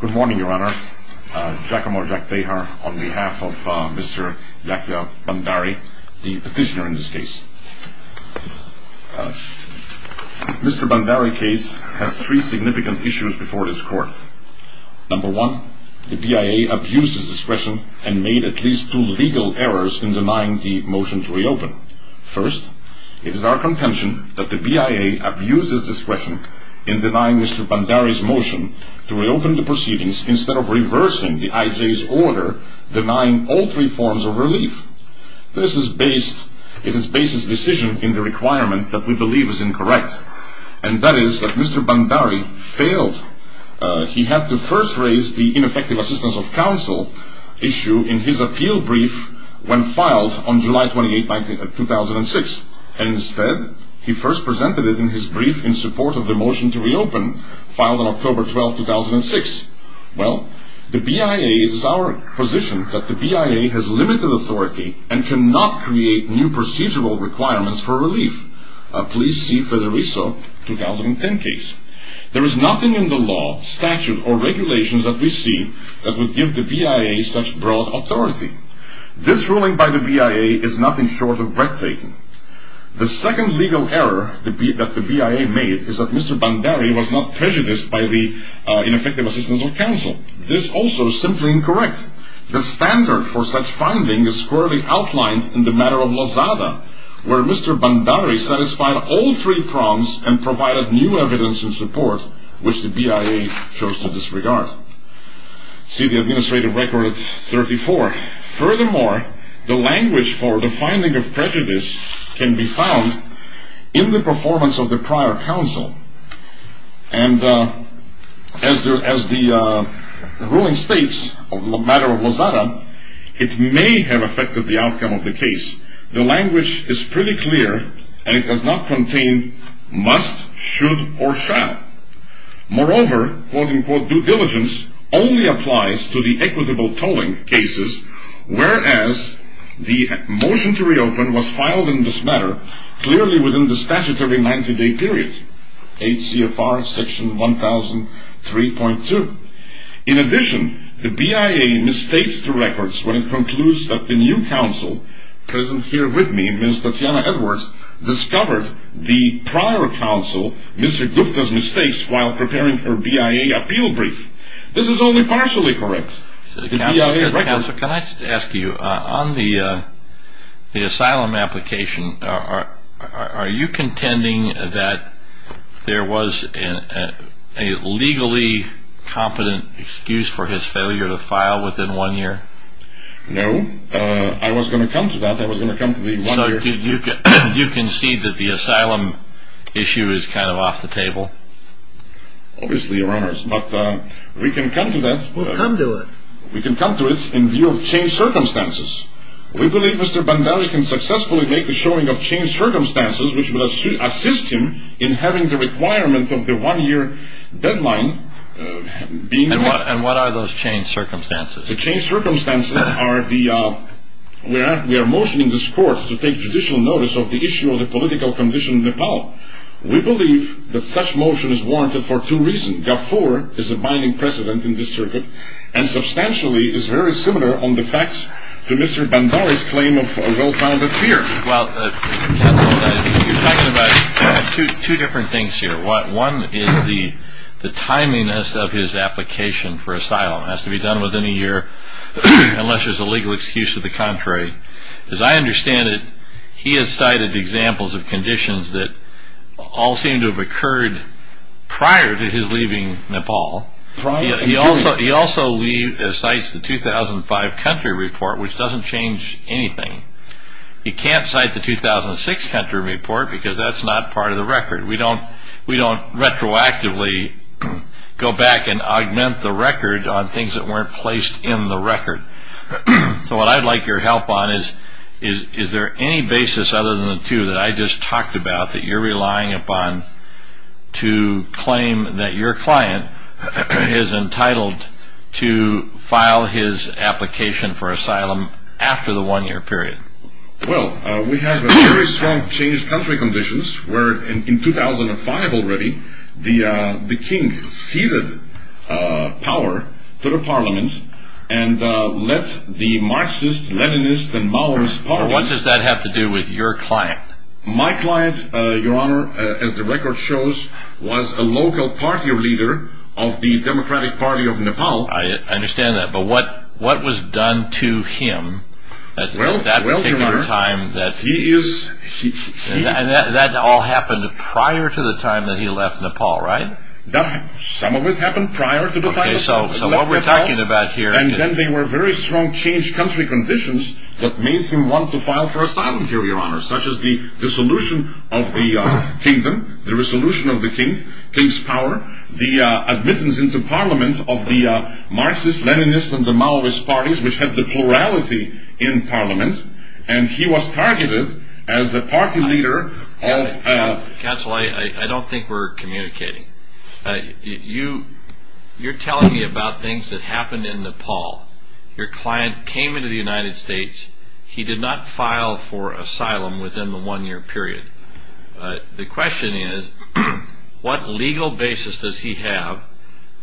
Good morning Your Honor, Giacomo Giacobbe on behalf of Mr. Giacobbe Bhandari, the petitioner in this case. Mr. Bhandari's case has three significant issues before this court. Number one, the BIA abused his discretion and made at least two legal errors in denying the motion to reopen. First, it is our contention that the BIA abused his discretion in denying Mr. Bhandari's motion to reopen the proceedings instead of reversing the IJ's order denying all three forms of relief. This is based, it is based its decision in the requirement that we believe is incorrect. And that is that Mr. Bhandari failed. He had to first raise the ineffective assistance of counsel issue in his appeal brief when filed on July 28, 2006. And instead, he first presented it in his brief in support of the motion to reopen filed on October 12, 2006. Well, the BIA is our position that the BIA has limited authority and cannot create new procedural requirements for relief. Please see Federico, 2010 case. There is nothing in the law, statute or regulations that we see that would give the BIA such broad authority. This ruling by the BIA is nothing short of breathtaking. The second legal error that the BIA made is that Mr. Bhandari was not prejudiced by the ineffective assistance of counsel. This is also simply incorrect. The standard for such finding is squarely outlined in the matter of Lozada where Mr. Bhandari satisfied all three prongs and provided new evidence in support which the BIA chose to disregard. See the administrative record 34. Furthermore, the language for the finding of prejudice can be found in the performance of the prior counsel. And as the ruling states on the matter of Lozada, it may have affected the outcome of the case. The language is pretty clear and it does not contain must, should or shall. Moreover, quote-unquote due diligence only applies to the equitable tolling cases whereas the motion to reopen was filed in this matter clearly within the statutory 90-day period. HCFR section 1003.2. In addition, the BIA mistakes the records when it concludes that the new counsel present here with me, Ms. Tatiana Edwards, discovered the prior counsel, Mr. Gupta's mistakes while preparing her BIA appeal brief. This is only partially correct. Counsel, can I ask you, on the asylum application, are you contending that there was a legally competent excuse for his failure to file within one year? No, I was going to come to that. I was going to come to the one year. So you concede that the asylum issue is kind of off the table? Obviously, Your Honors, but we can come to that. Well, come to it. We can come to it in view of changed circumstances. We believe Mr. Bandeli can successfully make the showing of changed circumstances which will assist him in having the requirement of the one year deadline being met. And what are those changed circumstances? The changed circumstances are the, we are motioning this court to take judicial notice of the issue of the political condition in Nepal. We believe that such motion is warranted for two reasons. Gafur is a binding precedent in this circuit and substantially is very similar on the facts to Mr. Bandeli's claim of a well-founded fear. Well, Counsel, you're talking about two different things here. One is the timeliness of his application for asylum. It has to be done within a year unless there's a legal excuse to the contrary. As I understand it, he has cited examples of conditions that all seem to have occurred prior to his leaving Nepal. He also cites the 2005 country report, which doesn't change anything. He can't cite the 2006 country report because that's not part of the record. We don't retroactively go back and augment the record on things that weren't placed in the record. So what I'd like your help on is, is there any basis other than the two that I just talked about that you're relying upon to claim that your client is entitled to file his application for asylum after the one-year period? Well, we have very strong changed country conditions where, in 2005 already, the king ceded power to the parliament and let the Marxist, Leninist, and Maoist parties... What does that have to do with your client? My client, Your Honor, as the record shows, was a local party leader of the Democratic Party of Nepal. I understand that, but what was done to him? Well, Your Honor, he is... And that all happened prior to the time that he left Nepal, right? Some of it happened prior to the time that he left Nepal, and then there were very strong changed country conditions that made him want to file for asylum here, Your Honor, such as the dissolution of the kingdom, the resolution of the king, king's power, the admittance into parliament of the Marxist, Leninist, and the Maoist parties, which had the plurality in parliament, and he was targeted as the party leader of... Counsel, I don't think we're communicating. You're telling me about things that happened in Nepal. Your client came into the United States. He did not file for asylum within the one-year period. The question is, what legal basis does he have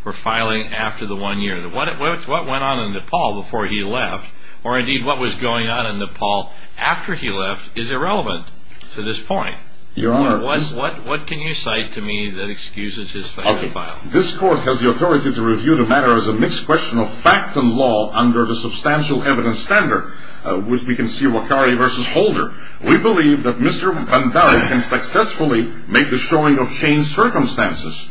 for filing after the one year? What went on in Nepal before he left, or indeed what was going on in Nepal after he left, is irrelevant to this point. Your Honor... What can you cite to me that excuses his filing? This court has the authority to review the matter as a mixed question of fact and law under the substantial evidence standard, which we can see Wakari v. Holder. We believe that Mr. Bhandari can successfully make the showing of changed circumstances,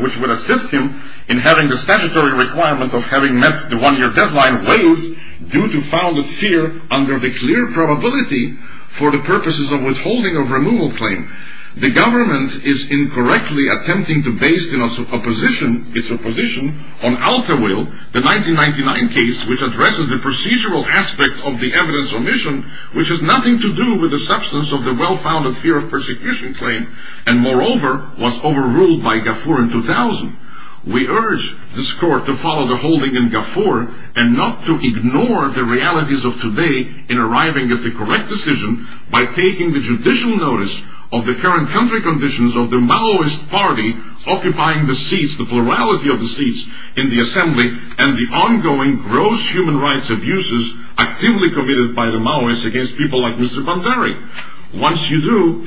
which would assist him in having the statutory requirement of having met the one-year deadline waived due to founded fear under the clear probability for the purposes of withholding of removal claim. The government is incorrectly attempting to base its opposition on Altawil, the 1999 case, which addresses the procedural aspect of the evidence omission, which has nothing to do with the substance of the well-founded fear of persecution claim, and moreover, was overruled by Gafur in 2000. We urge this court to follow the holding in Gafur, and not to ignore the realities of today in arriving at the correct decision by taking the judicial notice of the current country conditions of the Maoist party occupying the seats, the plurality of the seats in the assembly, and the ongoing gross human rights abuses actively committed by the Maoists against people like Mr. Bhandari. Once you do,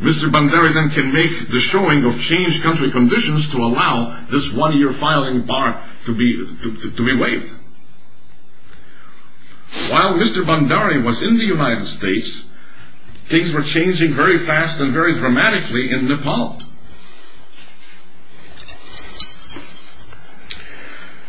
Mr. Bhandari then can make the showing of changed country conditions to allow this one-year filing bar to be waived. While Mr. Bhandari was in the United States, things were changing very fast and very dramatically in Nepal.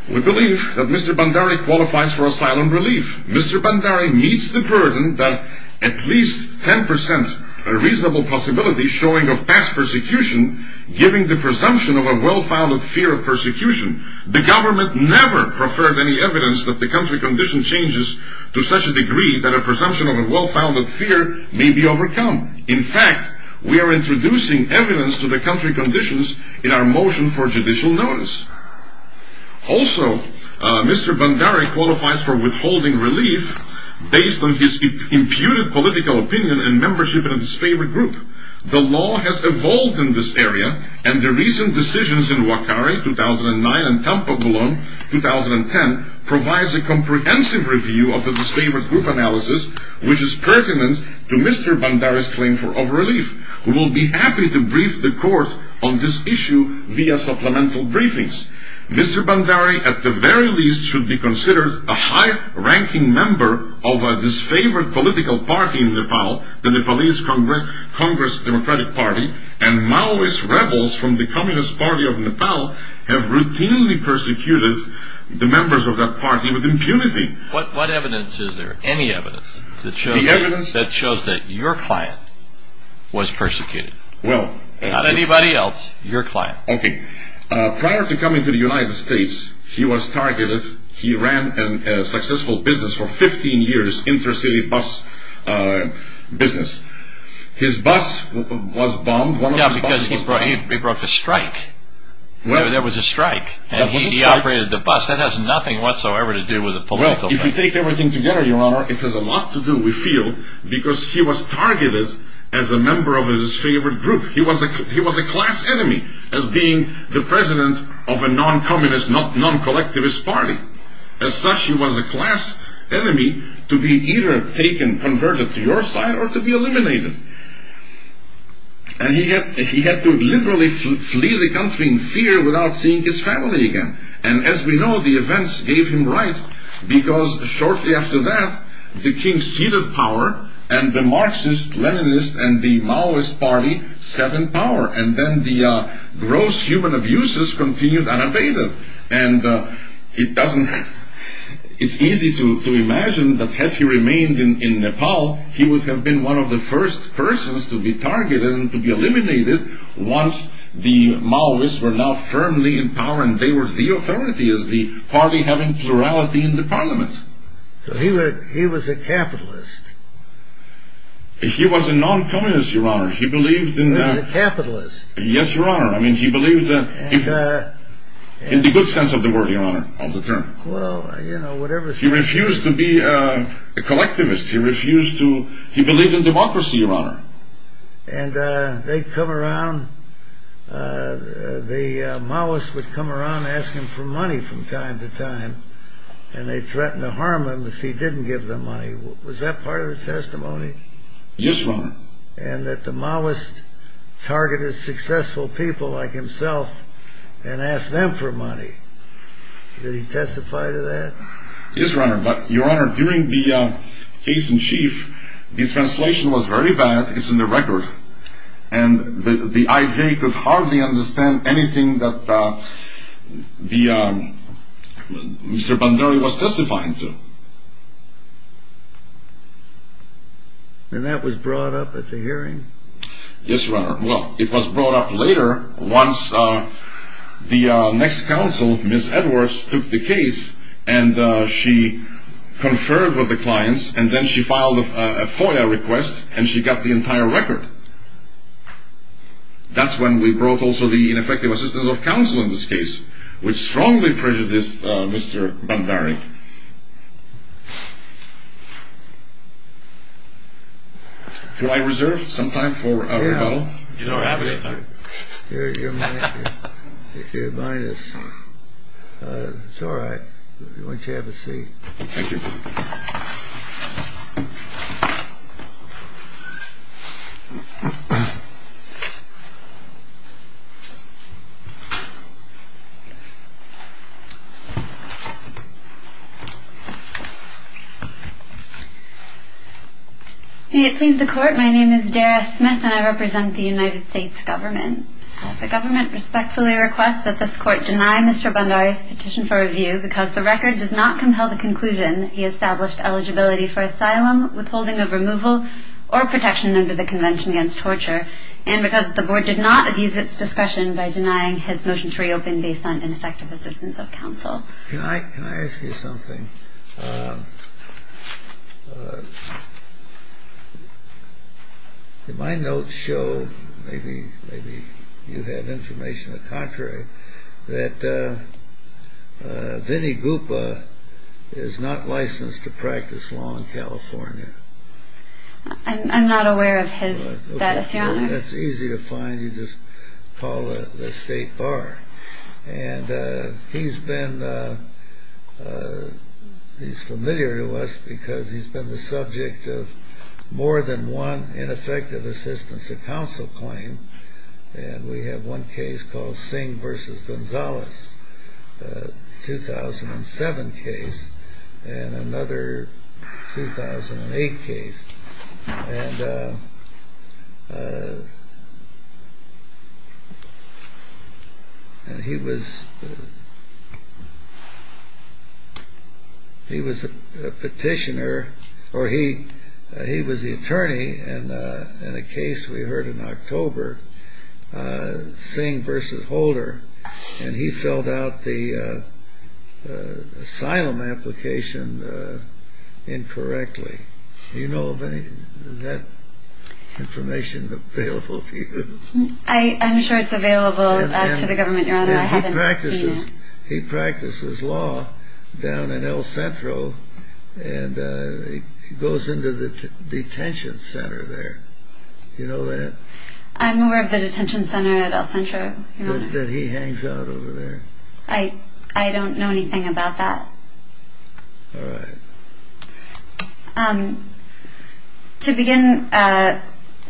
We believe that Mr. Bhandari qualifies for asylum relief. Mr. Bhandari meets the burden that at least 10% reasonable possibility showing of past persecution giving the presumption of a well-founded fear of persecution. The government never preferred any evidence that the country condition changes to such a degree that a presumption of a well-founded fear may be overcome. In fact, we are introducing evidence to the country conditions in our motion for judicial notice. Also, Mr. Bhandari qualifies for withholding relief based on his imputed political opinion and membership in a disfavored group. The law has evolved in this area, and the recent decisions in Wakare 2009 and Tampabulon 2010 provides a comprehensive review of the disfavored group analysis which is pertinent to Mr. Bhandari's claim of relief. We will be happy to brief the court on this issue via supplemental briefings. Mr. Bhandari, at the very least, should be considered a high-ranking member of a disfavored political party in Nepal, the Nepalese Congress Democratic Party, and Maoist rebels from the Communist Party of Nepal have routinely persecuted the members of that party with impunity. What evidence is there, any evidence, that shows that your client was persecuted? Not anybody else, your client. Prior to coming to the United States, he was targeted. He ran a successful business for 15 years, intercity bus business. His bus was bombed. Yeah, because he brought the strike. There was a strike, and he operated the bus. That has nothing whatsoever to do with the political party. Well, if you take everything together, your honor, it has a lot to do, we feel, because he was targeted as a member of a disfavored group. He was a class enemy as being the president of a non-communist, non-collectivist party. As such, he was a class enemy to be either taken, converted to your side, or to be eliminated. And he had to literally flee the country in fear without seeing his family again. And as we know, the events gave him right, because shortly after that, the king ceded power, and the Marxist, Leninist, and the Maoist party sat in power, and then the gross human abuses continued unabated. And it's easy to imagine that had he remained in Nepal, he would have been one of the first persons to be targeted and to be eliminated once the Maoists were now firmly in power, and they were the authority as the party having plurality in the parliament. So he was a capitalist. He was a non-communist, your honor. He believed in... He was a capitalist. Yes, your honor. I mean, he believed that... In the good sense of the word, your honor, of the term. Well, you know, whatever... He refused to be a collectivist. He refused to... He believed in democracy, your honor. And they'd come around, the Maoists would come around asking for money from time to time, and they threatened to harm him if he didn't give them money. Was that part of the testimony? Yes, your honor. And that the Maoists targeted successful people like himself and asked them for money. Did he testify to that? Yes, your honor. But, your honor, during the case in chief, the translation was very bad. It's in the record. And the IJ could hardly understand anything that Mr. Bandari was testifying to. And that was brought up at the hearing? Yes, your honor. Well, it was brought up later, once the next counsel, Ms. Edwards, took the case, and she conferred with the clients, and then she filed a FOIA request, and she got the entire record. That's when we brought also the ineffective assistant of counsel in this case, which strongly prejudiced Mr. Bandari. Do I reserve some time for rebuttal? You don't have any time. You're minus. It's all right. Why don't you have a seat? Thank you. May it please the court, my name is Dara Smith, and I represent the United States government. The government respectfully requests that this court deny Mr. Bandari's petition for review because the record does not compel the conclusion he established eligibility for asylum, withholding of removal, or protection under the Convention Against Torture, and because the board did not abuse its discretion by denying his motion to reopen based on ineffective assistance of counsel. Well, can I ask you something? My notes show, maybe you have information that contrary, that Vinnie Guppa is not licensed to practice law in California. I'm not aware of his status, your honor. That's easy to find, you just call the state bar. And he's been, he's familiar to us because he's been the subject of more than one ineffective assistance of counsel claim. And we have one case called Singh versus Gonzalez, a 2007 case, and another 2008 case. And he was a petitioner, or he was the attorney in a case we heard in October, Singh versus Holder, and he filled out the asylum application incorrectly. Do you know of any of that information available to you? I'm sure it's available to the government, your honor. He practices law down in El Centro, and he goes into the detention center there. Do you know that? I'm aware of the detention center at El Centro, your honor. That he hangs out over there. I don't know anything about that. All right. To begin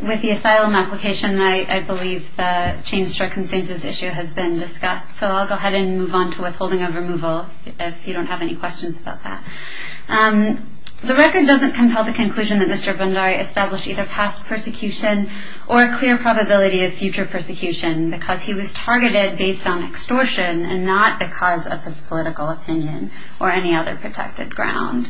with the asylum application, I believe the changed circumstances issue has been discussed. So I'll go ahead and move on to withholding of removal if you don't have any questions about that. The record doesn't compel the conclusion that Mr. Bundari established either past persecution or a clear probability of future persecution because he was targeted based on extortion and not because of his political opinion or any other protected ground.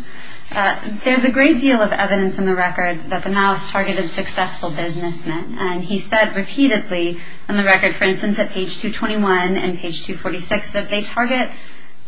There's a great deal of evidence in the record that the Maos targeted successful businessmen. And he said repeatedly in the record, for instance, at page 221 and page 246, that they target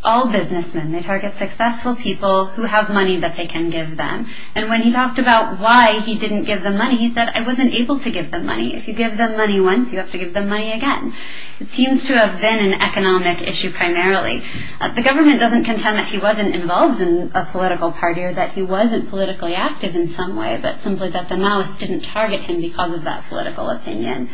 all businessmen. They target successful people who have money that they can give them. And when he talked about why he didn't give them money, he said, I wasn't able to give them money. If you give them money once, you have to give them money again. It seems to have been an economic issue primarily. The government doesn't contend that he wasn't involved in a political party or that he wasn't politically active in some way, but simply that the Maos didn't target him because of that political opinion.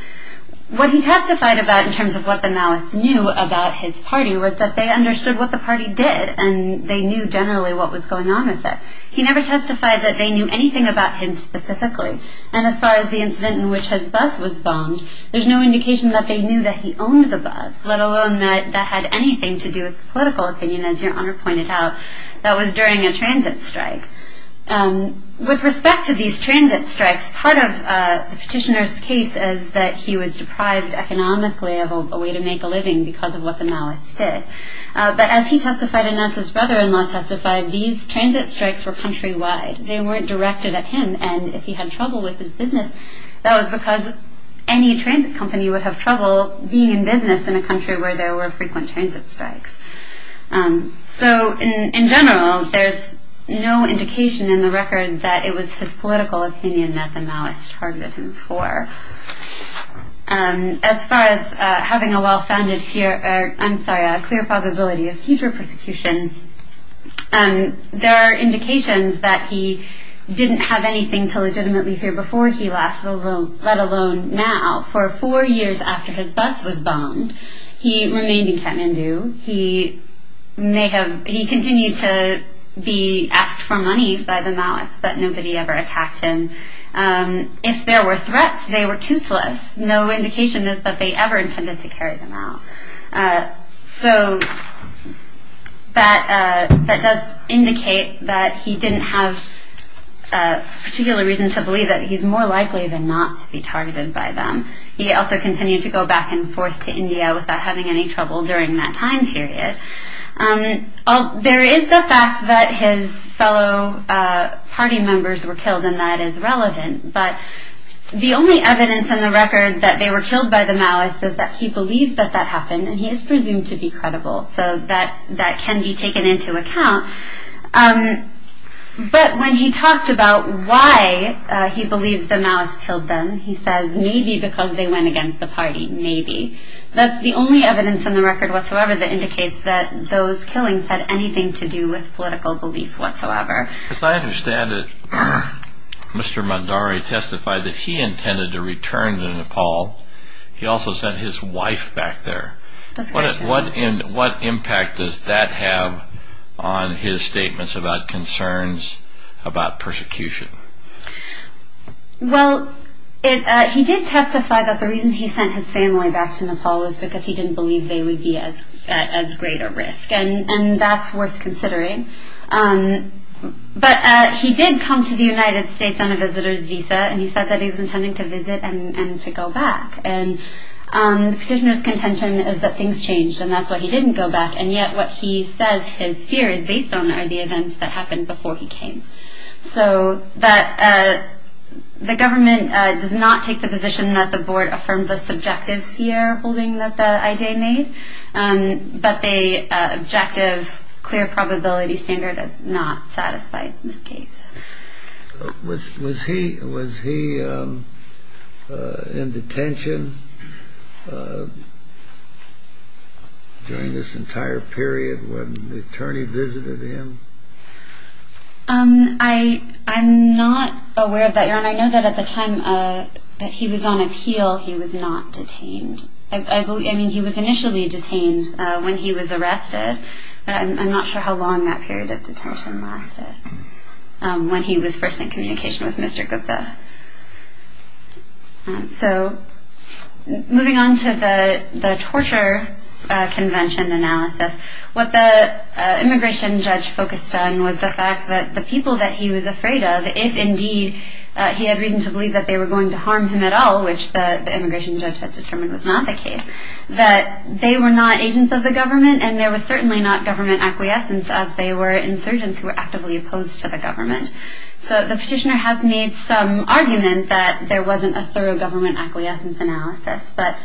What he testified about in terms of what the Maos knew about his party was that they understood what the party did and they knew generally what was going on with it. He never testified that they knew anything about him specifically. And as far as the incident in which his bus was bombed, there's no indication that they knew that he owned the bus, let alone that that had anything to do with the political opinion, as Your Honor pointed out, that was during a transit strike. With respect to these transit strikes, part of the petitioner's case is that he was deprived economically of a way to make a living because of what the Maos did. But as he testified and as his brother-in-law testified, these transit strikes were countrywide. They weren't directed at him, and if he had trouble with his business, that was because any transit company would have trouble being in business in a country where there were frequent transit strikes. So in general, there's no indication in the record that it was his political opinion that the Maos targeted him for. As far as having a well-founded fear, I'm sorry, a clear probability of future persecution, there are indications that he didn't have anything to legitimately fear before he left, let alone now. For four years after his bus was bombed, he remained in Kathmandu. He continued to be asked for monies by the Maos, but nobody ever attacked him. If there were threats, they were toothless. No indication is that they ever intended to carry them out. So that does indicate that he didn't have a particular reason to believe that he's more likely than not to be targeted by them. He also continued to go back and forth to India without having any trouble during that time period. There is the fact that his fellow party members were killed, and that is relevant, but the only evidence in the record that they were killed by the Maos is that he believes that that happened, and he is presumed to be credible, so that can be taken into account. But when he talked about why he believes the Maos killed them, he says, maybe because they went against the party, maybe. That's the only evidence in the record whatsoever that indicates that those killings had anything to do with political belief whatsoever. As I understand it, Mr. Mandare testified that he intended to return to Nepal. He also sent his wife back there. What impact does that have on his statements about concerns about persecution? Well, he did testify that the reason he sent his family back to Nepal was because he didn't believe they would be at as great a risk, and that's worth considering. But he did come to the United States on a visitor's visa, and he said that he was intending to visit and to go back, and the petitioner's contention is that things changed, and that's why he didn't go back, and yet what he says his fear is based on are the events that happened before he came. So the government does not take the position that the board affirmed the subjective fear holding that the IJ made, but the objective clear probability standard is not satisfied in this case. Was he in detention during this entire period when the attorney visited him? I'm not aware of that, Your Honor. I know that at the time that he was on appeal, he was not detained. I mean, he was initially detained when he was arrested, but I'm not sure how long that period of detention lasted when he was first in communication with Mr. Gupta. So moving on to the torture convention analysis, what the immigration judge focused on was the fact that the people that he was afraid of, if indeed he had reason to believe that they were going to harm him at all, which the immigration judge had determined was not the case, that they were not agents of the government and there was certainly not government acquiescence as they were insurgents who were actively opposed to the government. So the petitioner has made some argument that there wasn't a thorough government acquiescence analysis, but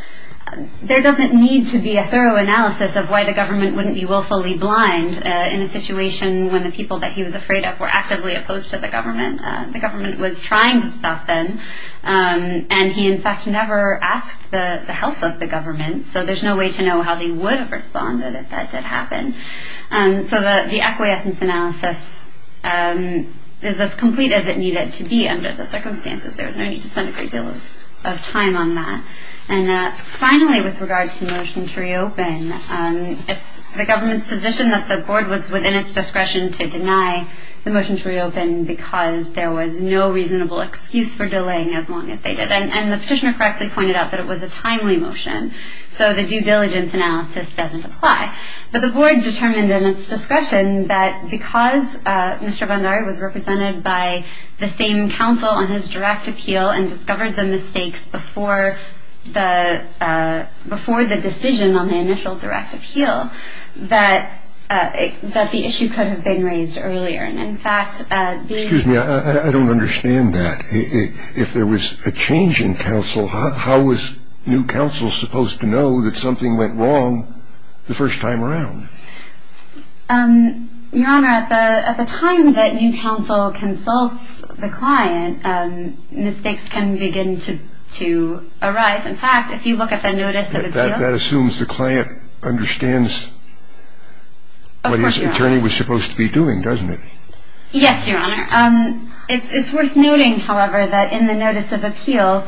there doesn't need to be a thorough analysis of why the government wouldn't be willfully blind in a situation when the people that he was afraid of were actively opposed to the government. The government was trying to stop them, and he in fact never asked the help of the government, so there's no way to know how they would have responded if that did happen. So the acquiescence analysis is as complete as it needed to be under the circumstances. There was no need to spend a great deal of time on that. And finally, with regard to the motion to reopen, it's the government's position that the board was within its discretion to deny the motion to reopen because there was no reasonable excuse for delaying as long as they did. And the petitioner correctly pointed out that it was a timely motion, so the due diligence analysis doesn't apply. But the board determined in its discretion that because Mr. Bandari was represented by the same counsel on his direct appeal and discovered the mistakes before the decision on the initial direct appeal, that the issue could have been raised earlier. Excuse me, I don't understand that. If there was a change in counsel, how was new counsel supposed to know that something went wrong the first time around? Your Honor, at the time that new counsel consults the client, mistakes can begin to arise. In fact, if you look at the notice of the deal... Yes, Your Honor. It's worth noting, however, that in the notice of appeal,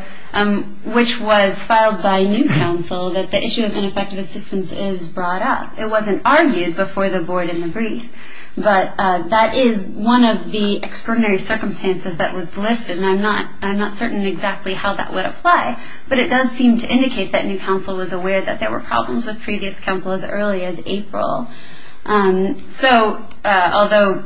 which was filed by new counsel, that the issue of ineffective assistance is brought up. It wasn't argued before the board in the brief. But that is one of the extraordinary circumstances that was listed, and I'm not certain exactly how that would apply. But it does seem to indicate that new counsel was aware that there were problems with previous counsel as early as April. So although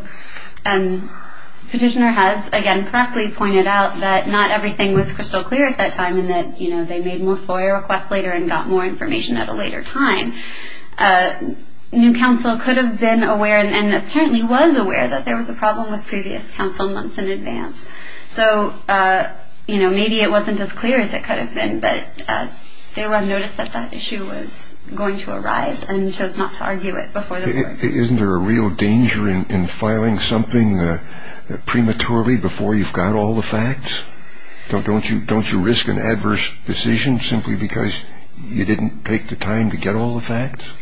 Petitioner has, again, correctly pointed out that not everything was crystal clear at that time and that they made more FOIA requests later and got more information at a later time, new counsel could have been aware and apparently was aware that there was a problem with previous counsel months in advance. So maybe it wasn't as clear as it could have been, but they would have noticed that that issue was going to arise and chose not to argue it before the board. Isn't there a real danger in filing something prematurely before you've got all the facts? Don't you risk an adverse decision simply because you didn't take the time to get all the facts?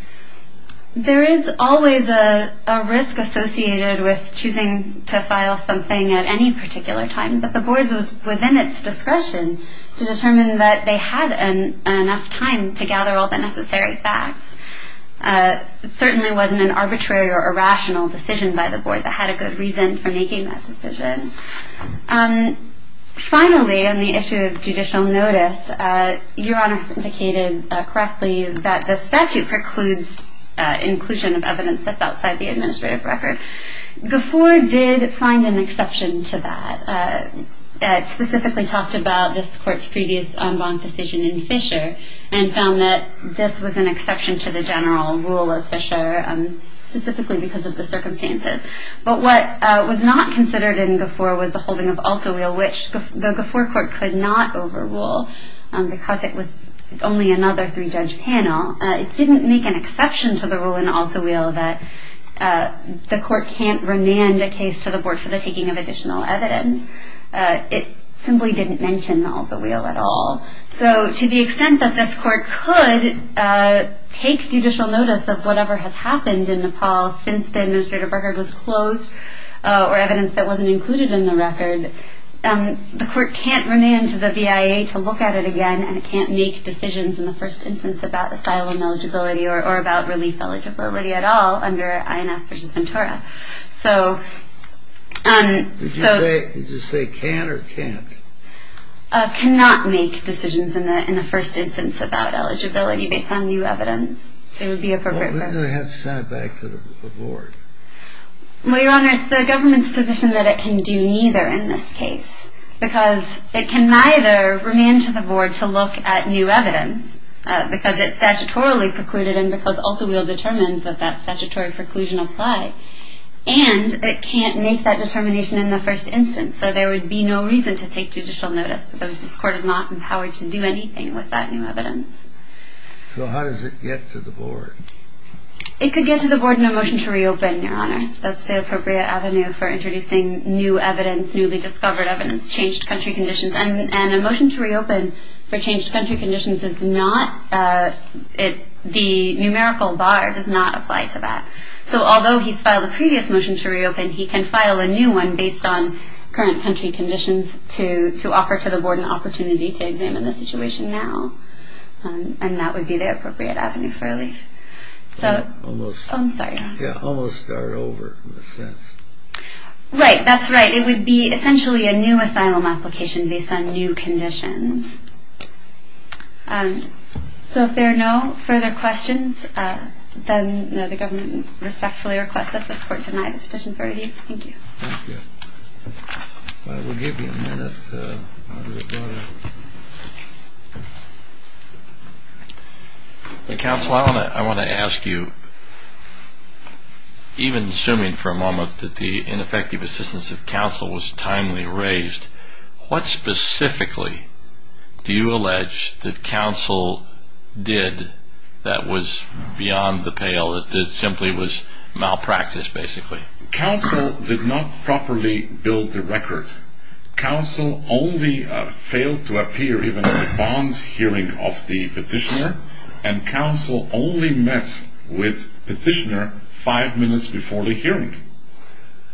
There is always a risk associated with choosing to file something at any particular time, but the board was within its discretion to determine that they had enough time to gather all the necessary facts. It certainly wasn't an arbitrary or irrational decision by the board that had a good reason for making that decision. Finally, on the issue of judicial notice, Your Honor has indicated correctly that the statute precludes inclusion of evidence that's outside the administrative record. GAFOR did find an exception to that. It specifically talked about this court's previous en banc decision in Fisher and found that this was an exception to the general rule of Fisher, specifically because of the circumstances. But what was not considered in GAFOR was the holding of Altowheel, which the GAFOR court could not overrule because it was only another three-judge panel. It didn't make an exception to the rule in Altowheel that the court can't remand a case to the board for the taking of additional evidence. It simply didn't mention Altowheel at all. So to the extent that this court could take judicial notice of whatever has happened in Nepal since the administrative record was closed or evidence that wasn't included in the record, the court can't remand to the BIA to look at it again and it can't make decisions in the first instance about asylum eligibility or about relief eligibility at all under INS v. Ventura. Did you say can or can't? Cannot make decisions in the first instance about eligibility based on new evidence. It would be appropriate for... Well, wouldn't they have to send it back to the board? Well, Your Honor, it's the government's position that it can do neither in this case because it can neither remand to the board to look at new evidence because it's statutorily precluded and because Altowheel determined that that statutory preclusion apply and it can't make that determination in the first instance. So there would be no reason to take judicial notice because this court is not empowered to do anything with that new evidence. So how does it get to the board? It could get to the board in a motion to reopen, Your Honor. That's the appropriate avenue for introducing new evidence, newly discovered evidence, changed country conditions. And a motion to reopen for changed country conditions is not... the numerical bar does not apply to that. So although he's filed a previous motion to reopen, he can file a new one based on current country conditions to offer to the board an opportunity to examine the situation now. And that would be the appropriate avenue for relief. So... Almost... I'm sorry, Your Honor. Yeah, almost start over in a sense. Right, that's right. It would be essentially a new asylum application based on new conditions. So if there are no further questions, then the government respectfully requests that this court deny the petition for relief. Thank you. Thank you. I will give you a minute. Counsel, I want to ask you, even assuming for a moment that the ineffective assistance of counsel was timely raised, what specifically do you allege that counsel did that was beyond the pale, that simply was malpractice, basically? Counsel did not properly build the record. Counsel only failed to appear even at the bond hearing of the petitioner, and counsel only met with the petitioner five minutes before the hearing.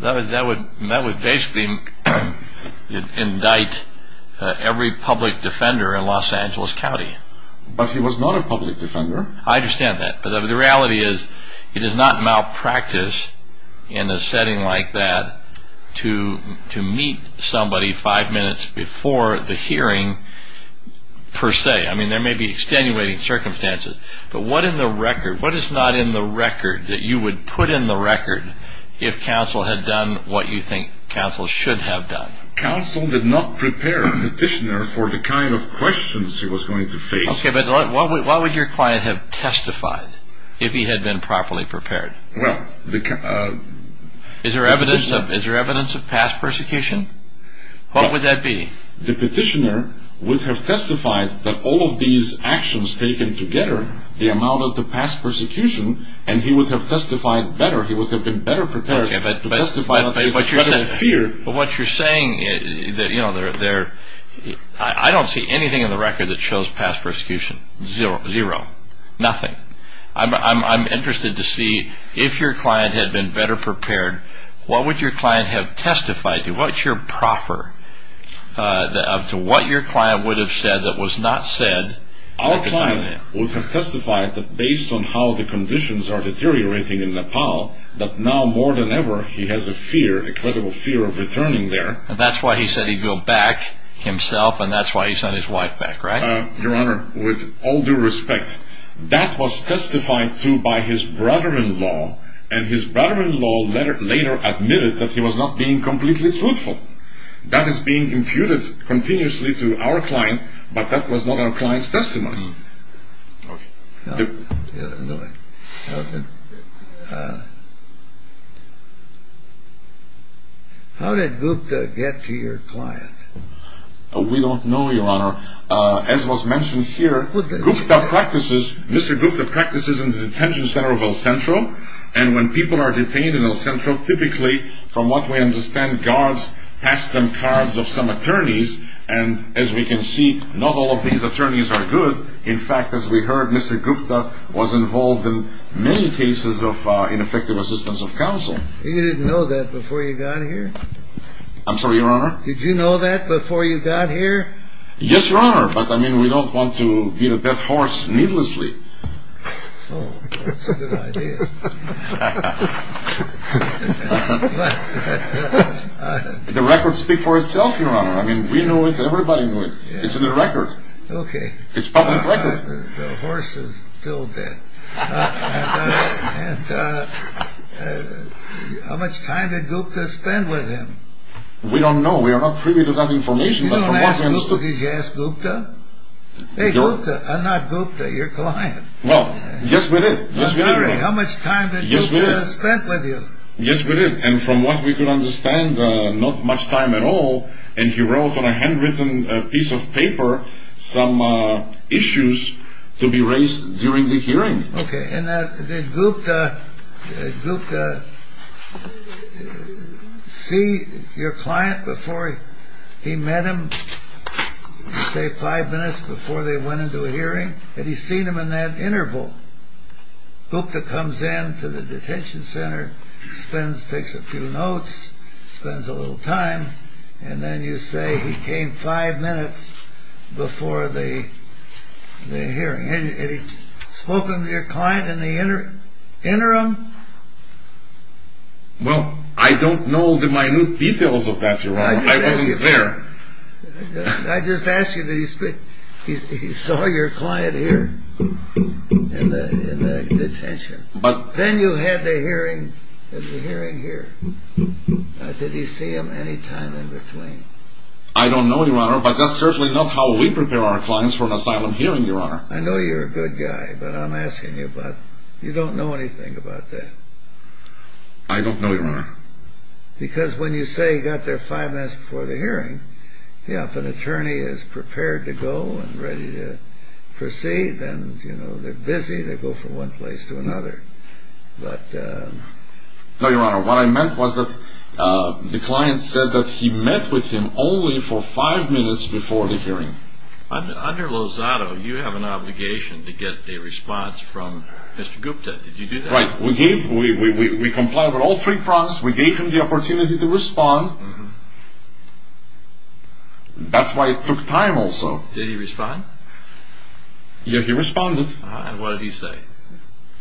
That would basically indict every public defender in Los Angeles County. But he was not a public defender. I understand that. But the reality is he did not malpractice in a setting like that to meet somebody five minutes before the hearing per se. I mean, there may be extenuating circumstances. But what in the record, what is not in the record that you would put in the record if counsel had done what you think counsel should have done? Counsel did not prepare the petitioner for the kind of questions he was going to face. Okay, but what would your client have testified if he had been properly prepared? Is there evidence of past persecution? What would that be? The petitioner would have testified that all of these actions taken together, the amount of the past persecution, and he would have testified better. He would have been better prepared to testify in spite of that fear. But what you're saying is that, you know, I don't see anything in the record that shows past persecution. Zero. Nothing. I'm interested to see if your client had been better prepared, what would your client have testified to? What's your proffer to what your client would have said that was not said? Our client would have testified that based on how the conditions are deteriorating in Nepal, that now more than ever he has a fear, a credible fear of returning there. And that's why he said he'd go back himself, and that's why he sent his wife back, right? Your Honor, with all due respect, that was testified to by his brother-in-law, and his brother-in-law later admitted that he was not being completely truthful. That is being imputed continuously to our client, but that was not our client's testimony. How did Gupta get to your client? We don't know, Your Honor. As was mentioned here, Mr. Gupta practices in the detention center of El Centro, and when people are detained in El Centro, typically, from what we understand, guards pass them cards of some attorneys. And as we can see, not all of these attorneys are good. In fact, as we heard, Mr. Gupta was involved in many cases of ineffective assistance of counsel. You didn't know that before you got here? I'm sorry, Your Honor? Did you know that before you got here? Yes, Your Honor, but, I mean, we don't want to beat a dead horse needlessly. Oh, that's a good idea. The record speaks for itself, Your Honor. I mean, we know it, everybody knows it. It's in the record. Okay. It's a public record. The horse is still dead. And how much time did Gupta spend with him? We don't know. We are not privy to that information, but from what we understood— You don't ask Gupta because you asked Gupta? Well, just with it. Just with it. I'm sorry, how much time did Gupta spend with you? Just with it. And from what we could understand, not much time at all, and he wrote on a handwritten piece of paper some issues to be raised during the hearing. Okay. And did Gupta see your client before he met him, say, five minutes before they went into a hearing? Had he seen him in that interval? Gupta comes in to the detention center, takes a few notes, spends a little time, and then you say he came five minutes before the hearing. Had he spoken to your client in the interim? Well, I don't know the minute details of that, Your Honor. I wasn't there. I just asked you, did he speak—he saw your client here in the detention? But— Then you had the hearing here. Did he see him any time in between? I don't know, Your Honor, but that's certainly not how we prepare our clients for an asylum hearing, Your Honor. I know you're a good guy, but I'm asking you, but you don't know anything about that. I don't know, Your Honor. Because when you say he got there five minutes before the hearing, yeah, if an attorney is prepared to go and ready to proceed, then, you know, they're busy. They go from one place to another. But— No, Your Honor, what I meant was that the client said that he met with him only for five minutes before the hearing. Under Lozado, you have an obligation to get the response from Mr. Gupta. Did you do that? Right. We gave—we complied with all three prompts. We gave him the opportunity to respond. That's why it took time also. Did he respond? Yeah, he responded. And what did he say?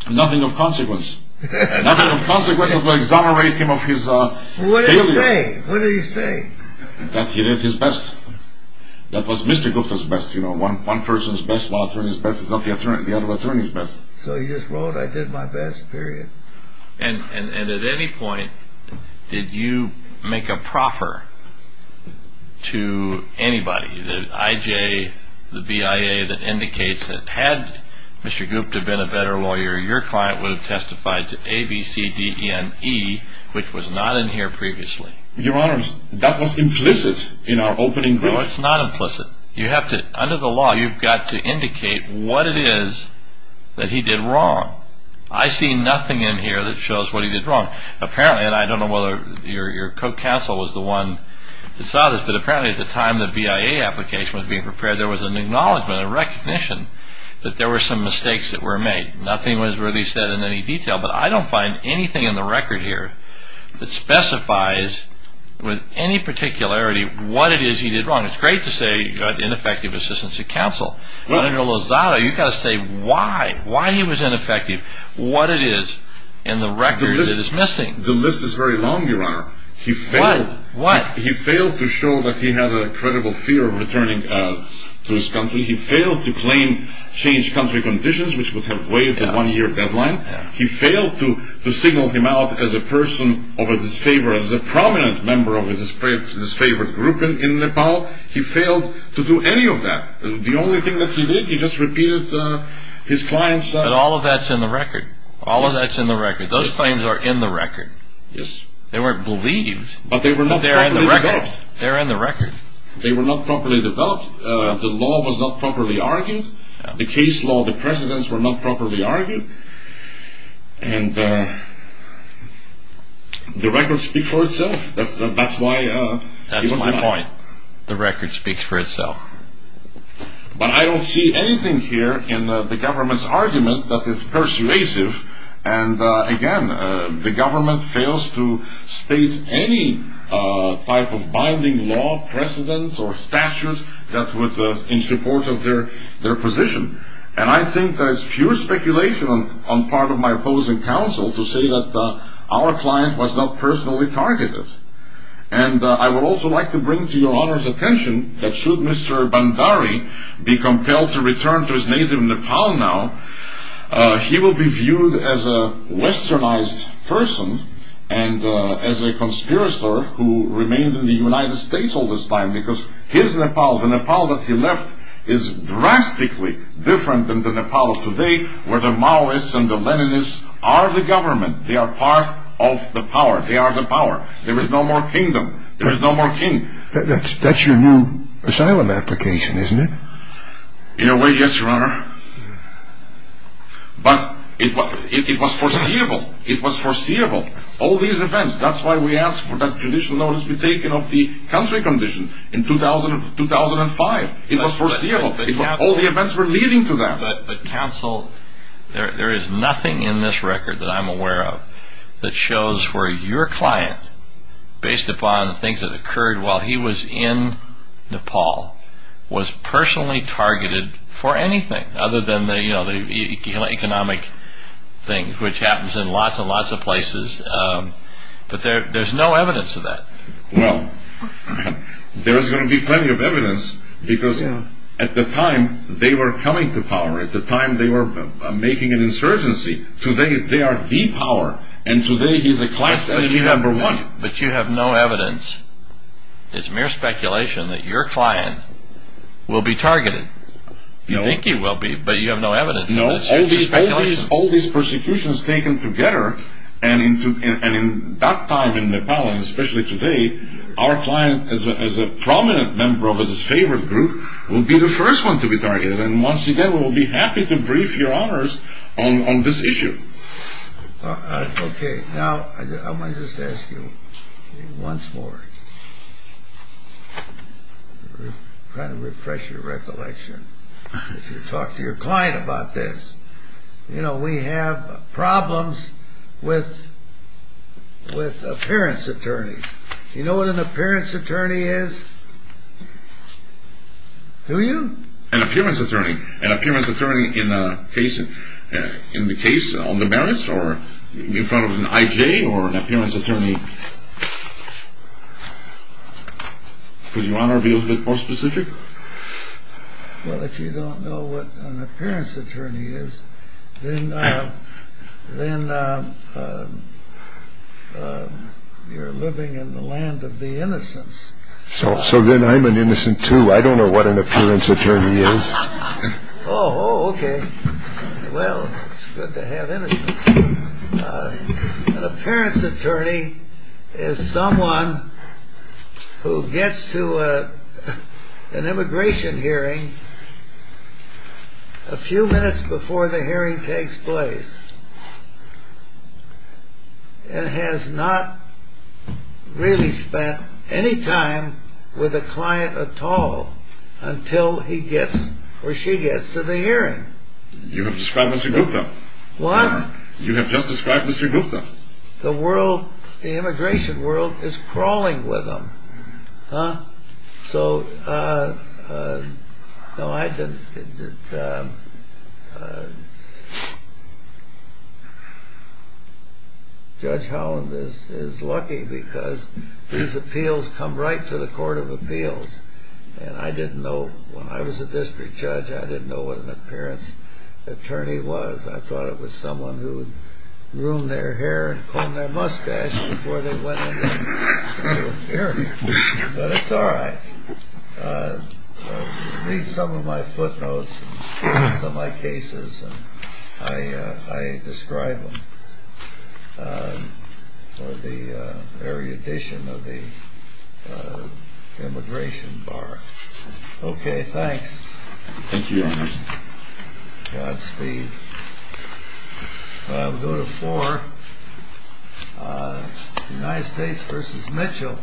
Nothing of consequence. Nothing of consequence would exonerate him of his failure. What did he say? What did he say? That he did his best. That was Mr. Gupta's best, you know. One person's best while an attorney's best is not the other attorney's best. So he just wrote, I did my best, period. And at any point, did you make a proffer to anybody? The IJ, the BIA that indicates that had Mr. Gupta been a better lawyer, your client would have testified to A, B, C, D, E, N, E, which was not in here previously. Your Honor, that was implicit in our opening— No, it's not implicit. Under the law, you've got to indicate what it is that he did wrong. I see nothing in here that shows what he did wrong. Apparently, and I don't know whether your co-counsel was the one that saw this, but apparently at the time the BIA application was being prepared, there was an acknowledgment, a recognition that there were some mistakes that were made. Nothing was really said in any detail, but I don't find anything in the record here that specifies with any particularity what it is he did wrong. It's great to say he got ineffective assistance of counsel. Under Lozada, you've got to say why. Why he was ineffective, what it is, and the record that is missing. The list is very long, your Honor. What? He failed to show that he had a credible fear of returning to his country. He failed to claim changed country conditions, which would have waived the one-year deadline. He failed to signal him out as a person of a disfavor, as a prominent member of a disfavored group in Nepal. He failed to do any of that. The only thing that he did, he just repeated his client's... But all of that's in the record. All of that's in the record. Those claims are in the record. Yes. They weren't believed, but they're in the record. But they were not properly developed. They're in the record. They were not properly developed. The law was not properly argued. The case law, the precedents were not properly argued. And the record speaks for itself. That's why he was not... That's my point. The record speaks for itself. But I don't see anything here in the government's argument that is persuasive. And again, the government fails to state any type of binding law, precedents, or statute that would... in support of their position. And I think that it's pure speculation on part of my opposing counsel to say that our client was not personally targeted. And I would also like to bring to your Honor's attention that should Mr. Bhandari be compelled to return to his native Nepal now, he will be viewed as a westernized person and as a conspirator who remained in the United States all this time, because his Nepal, the Nepal that he left, is drastically different than the Nepal of today, where the Maoists and the Leninists are the government. They are part of the power. They are the power. There is no more kingdom. There is no more king. That's your new asylum application, isn't it? In a way, yes, Your Honor. But it was foreseeable. It was foreseeable. All these events. That's why we asked for that judicial notice to be taken of the country condition in 2005. It was foreseeable. All the events were leading to that. But counsel, there is nothing in this record that I'm aware of that shows where your client, based upon the things that occurred while he was in Nepal, was personally targeted for anything, other than the economic things, which happens in lots and lots of places. But there's no evidence of that. Well, there is going to be plenty of evidence, because at the time they were coming to power. At the time they were making an insurgency. Today they are the power. And today he's a class energy number one. But you have no evidence. It's mere speculation that your client will be targeted. You think he will be, but you have no evidence. No. It's mere speculation. All these persecutions taken together, and in that time in Nepal, and especially today, our client, as a prominent member of his favorite group, will be the first one to be targeted. And once again, we'll be happy to brief Your Honors on this issue. Okay. Now, I want to just ask you once more. I'm trying to refresh your recollection. If you talk to your client about this. You know, we have problems with appearance attorneys. Do you know what an appearance attorney is? Do you? An appearance attorney. An appearance attorney in the case on the merits, or in front of an IJ, or an appearance attorney? Would Your Honor be a little bit more specific? Well, if you don't know what an appearance attorney is, then you're living in the land of the innocents. So then I'm an innocent, too. I don't know what an appearance attorney is. Oh, okay. Well, it's good to have innocence. An appearance attorney is someone who gets to an immigration hearing a few minutes before the hearing takes place and has not really spent any time with a client at all until he gets, or she gets, to the hearing. You have described us a group, though. What? You have just described us a group, though. The world, the immigration world, is crawling with them. Huh? So, no, I didn't. Judge Holland is lucky because these appeals come right to the court of appeals. And I didn't know, when I was a district judge, I didn't know what an appearance attorney was. I thought it was someone who would groom their hair and comb their mustache before they went into an hearing. But it's all right. Read some of my footnotes and some of my cases, and I describe them for the erudition of the immigration bar. Thank you, Your Honor. Godspeed. We'll go to four. United States v. Mitchell.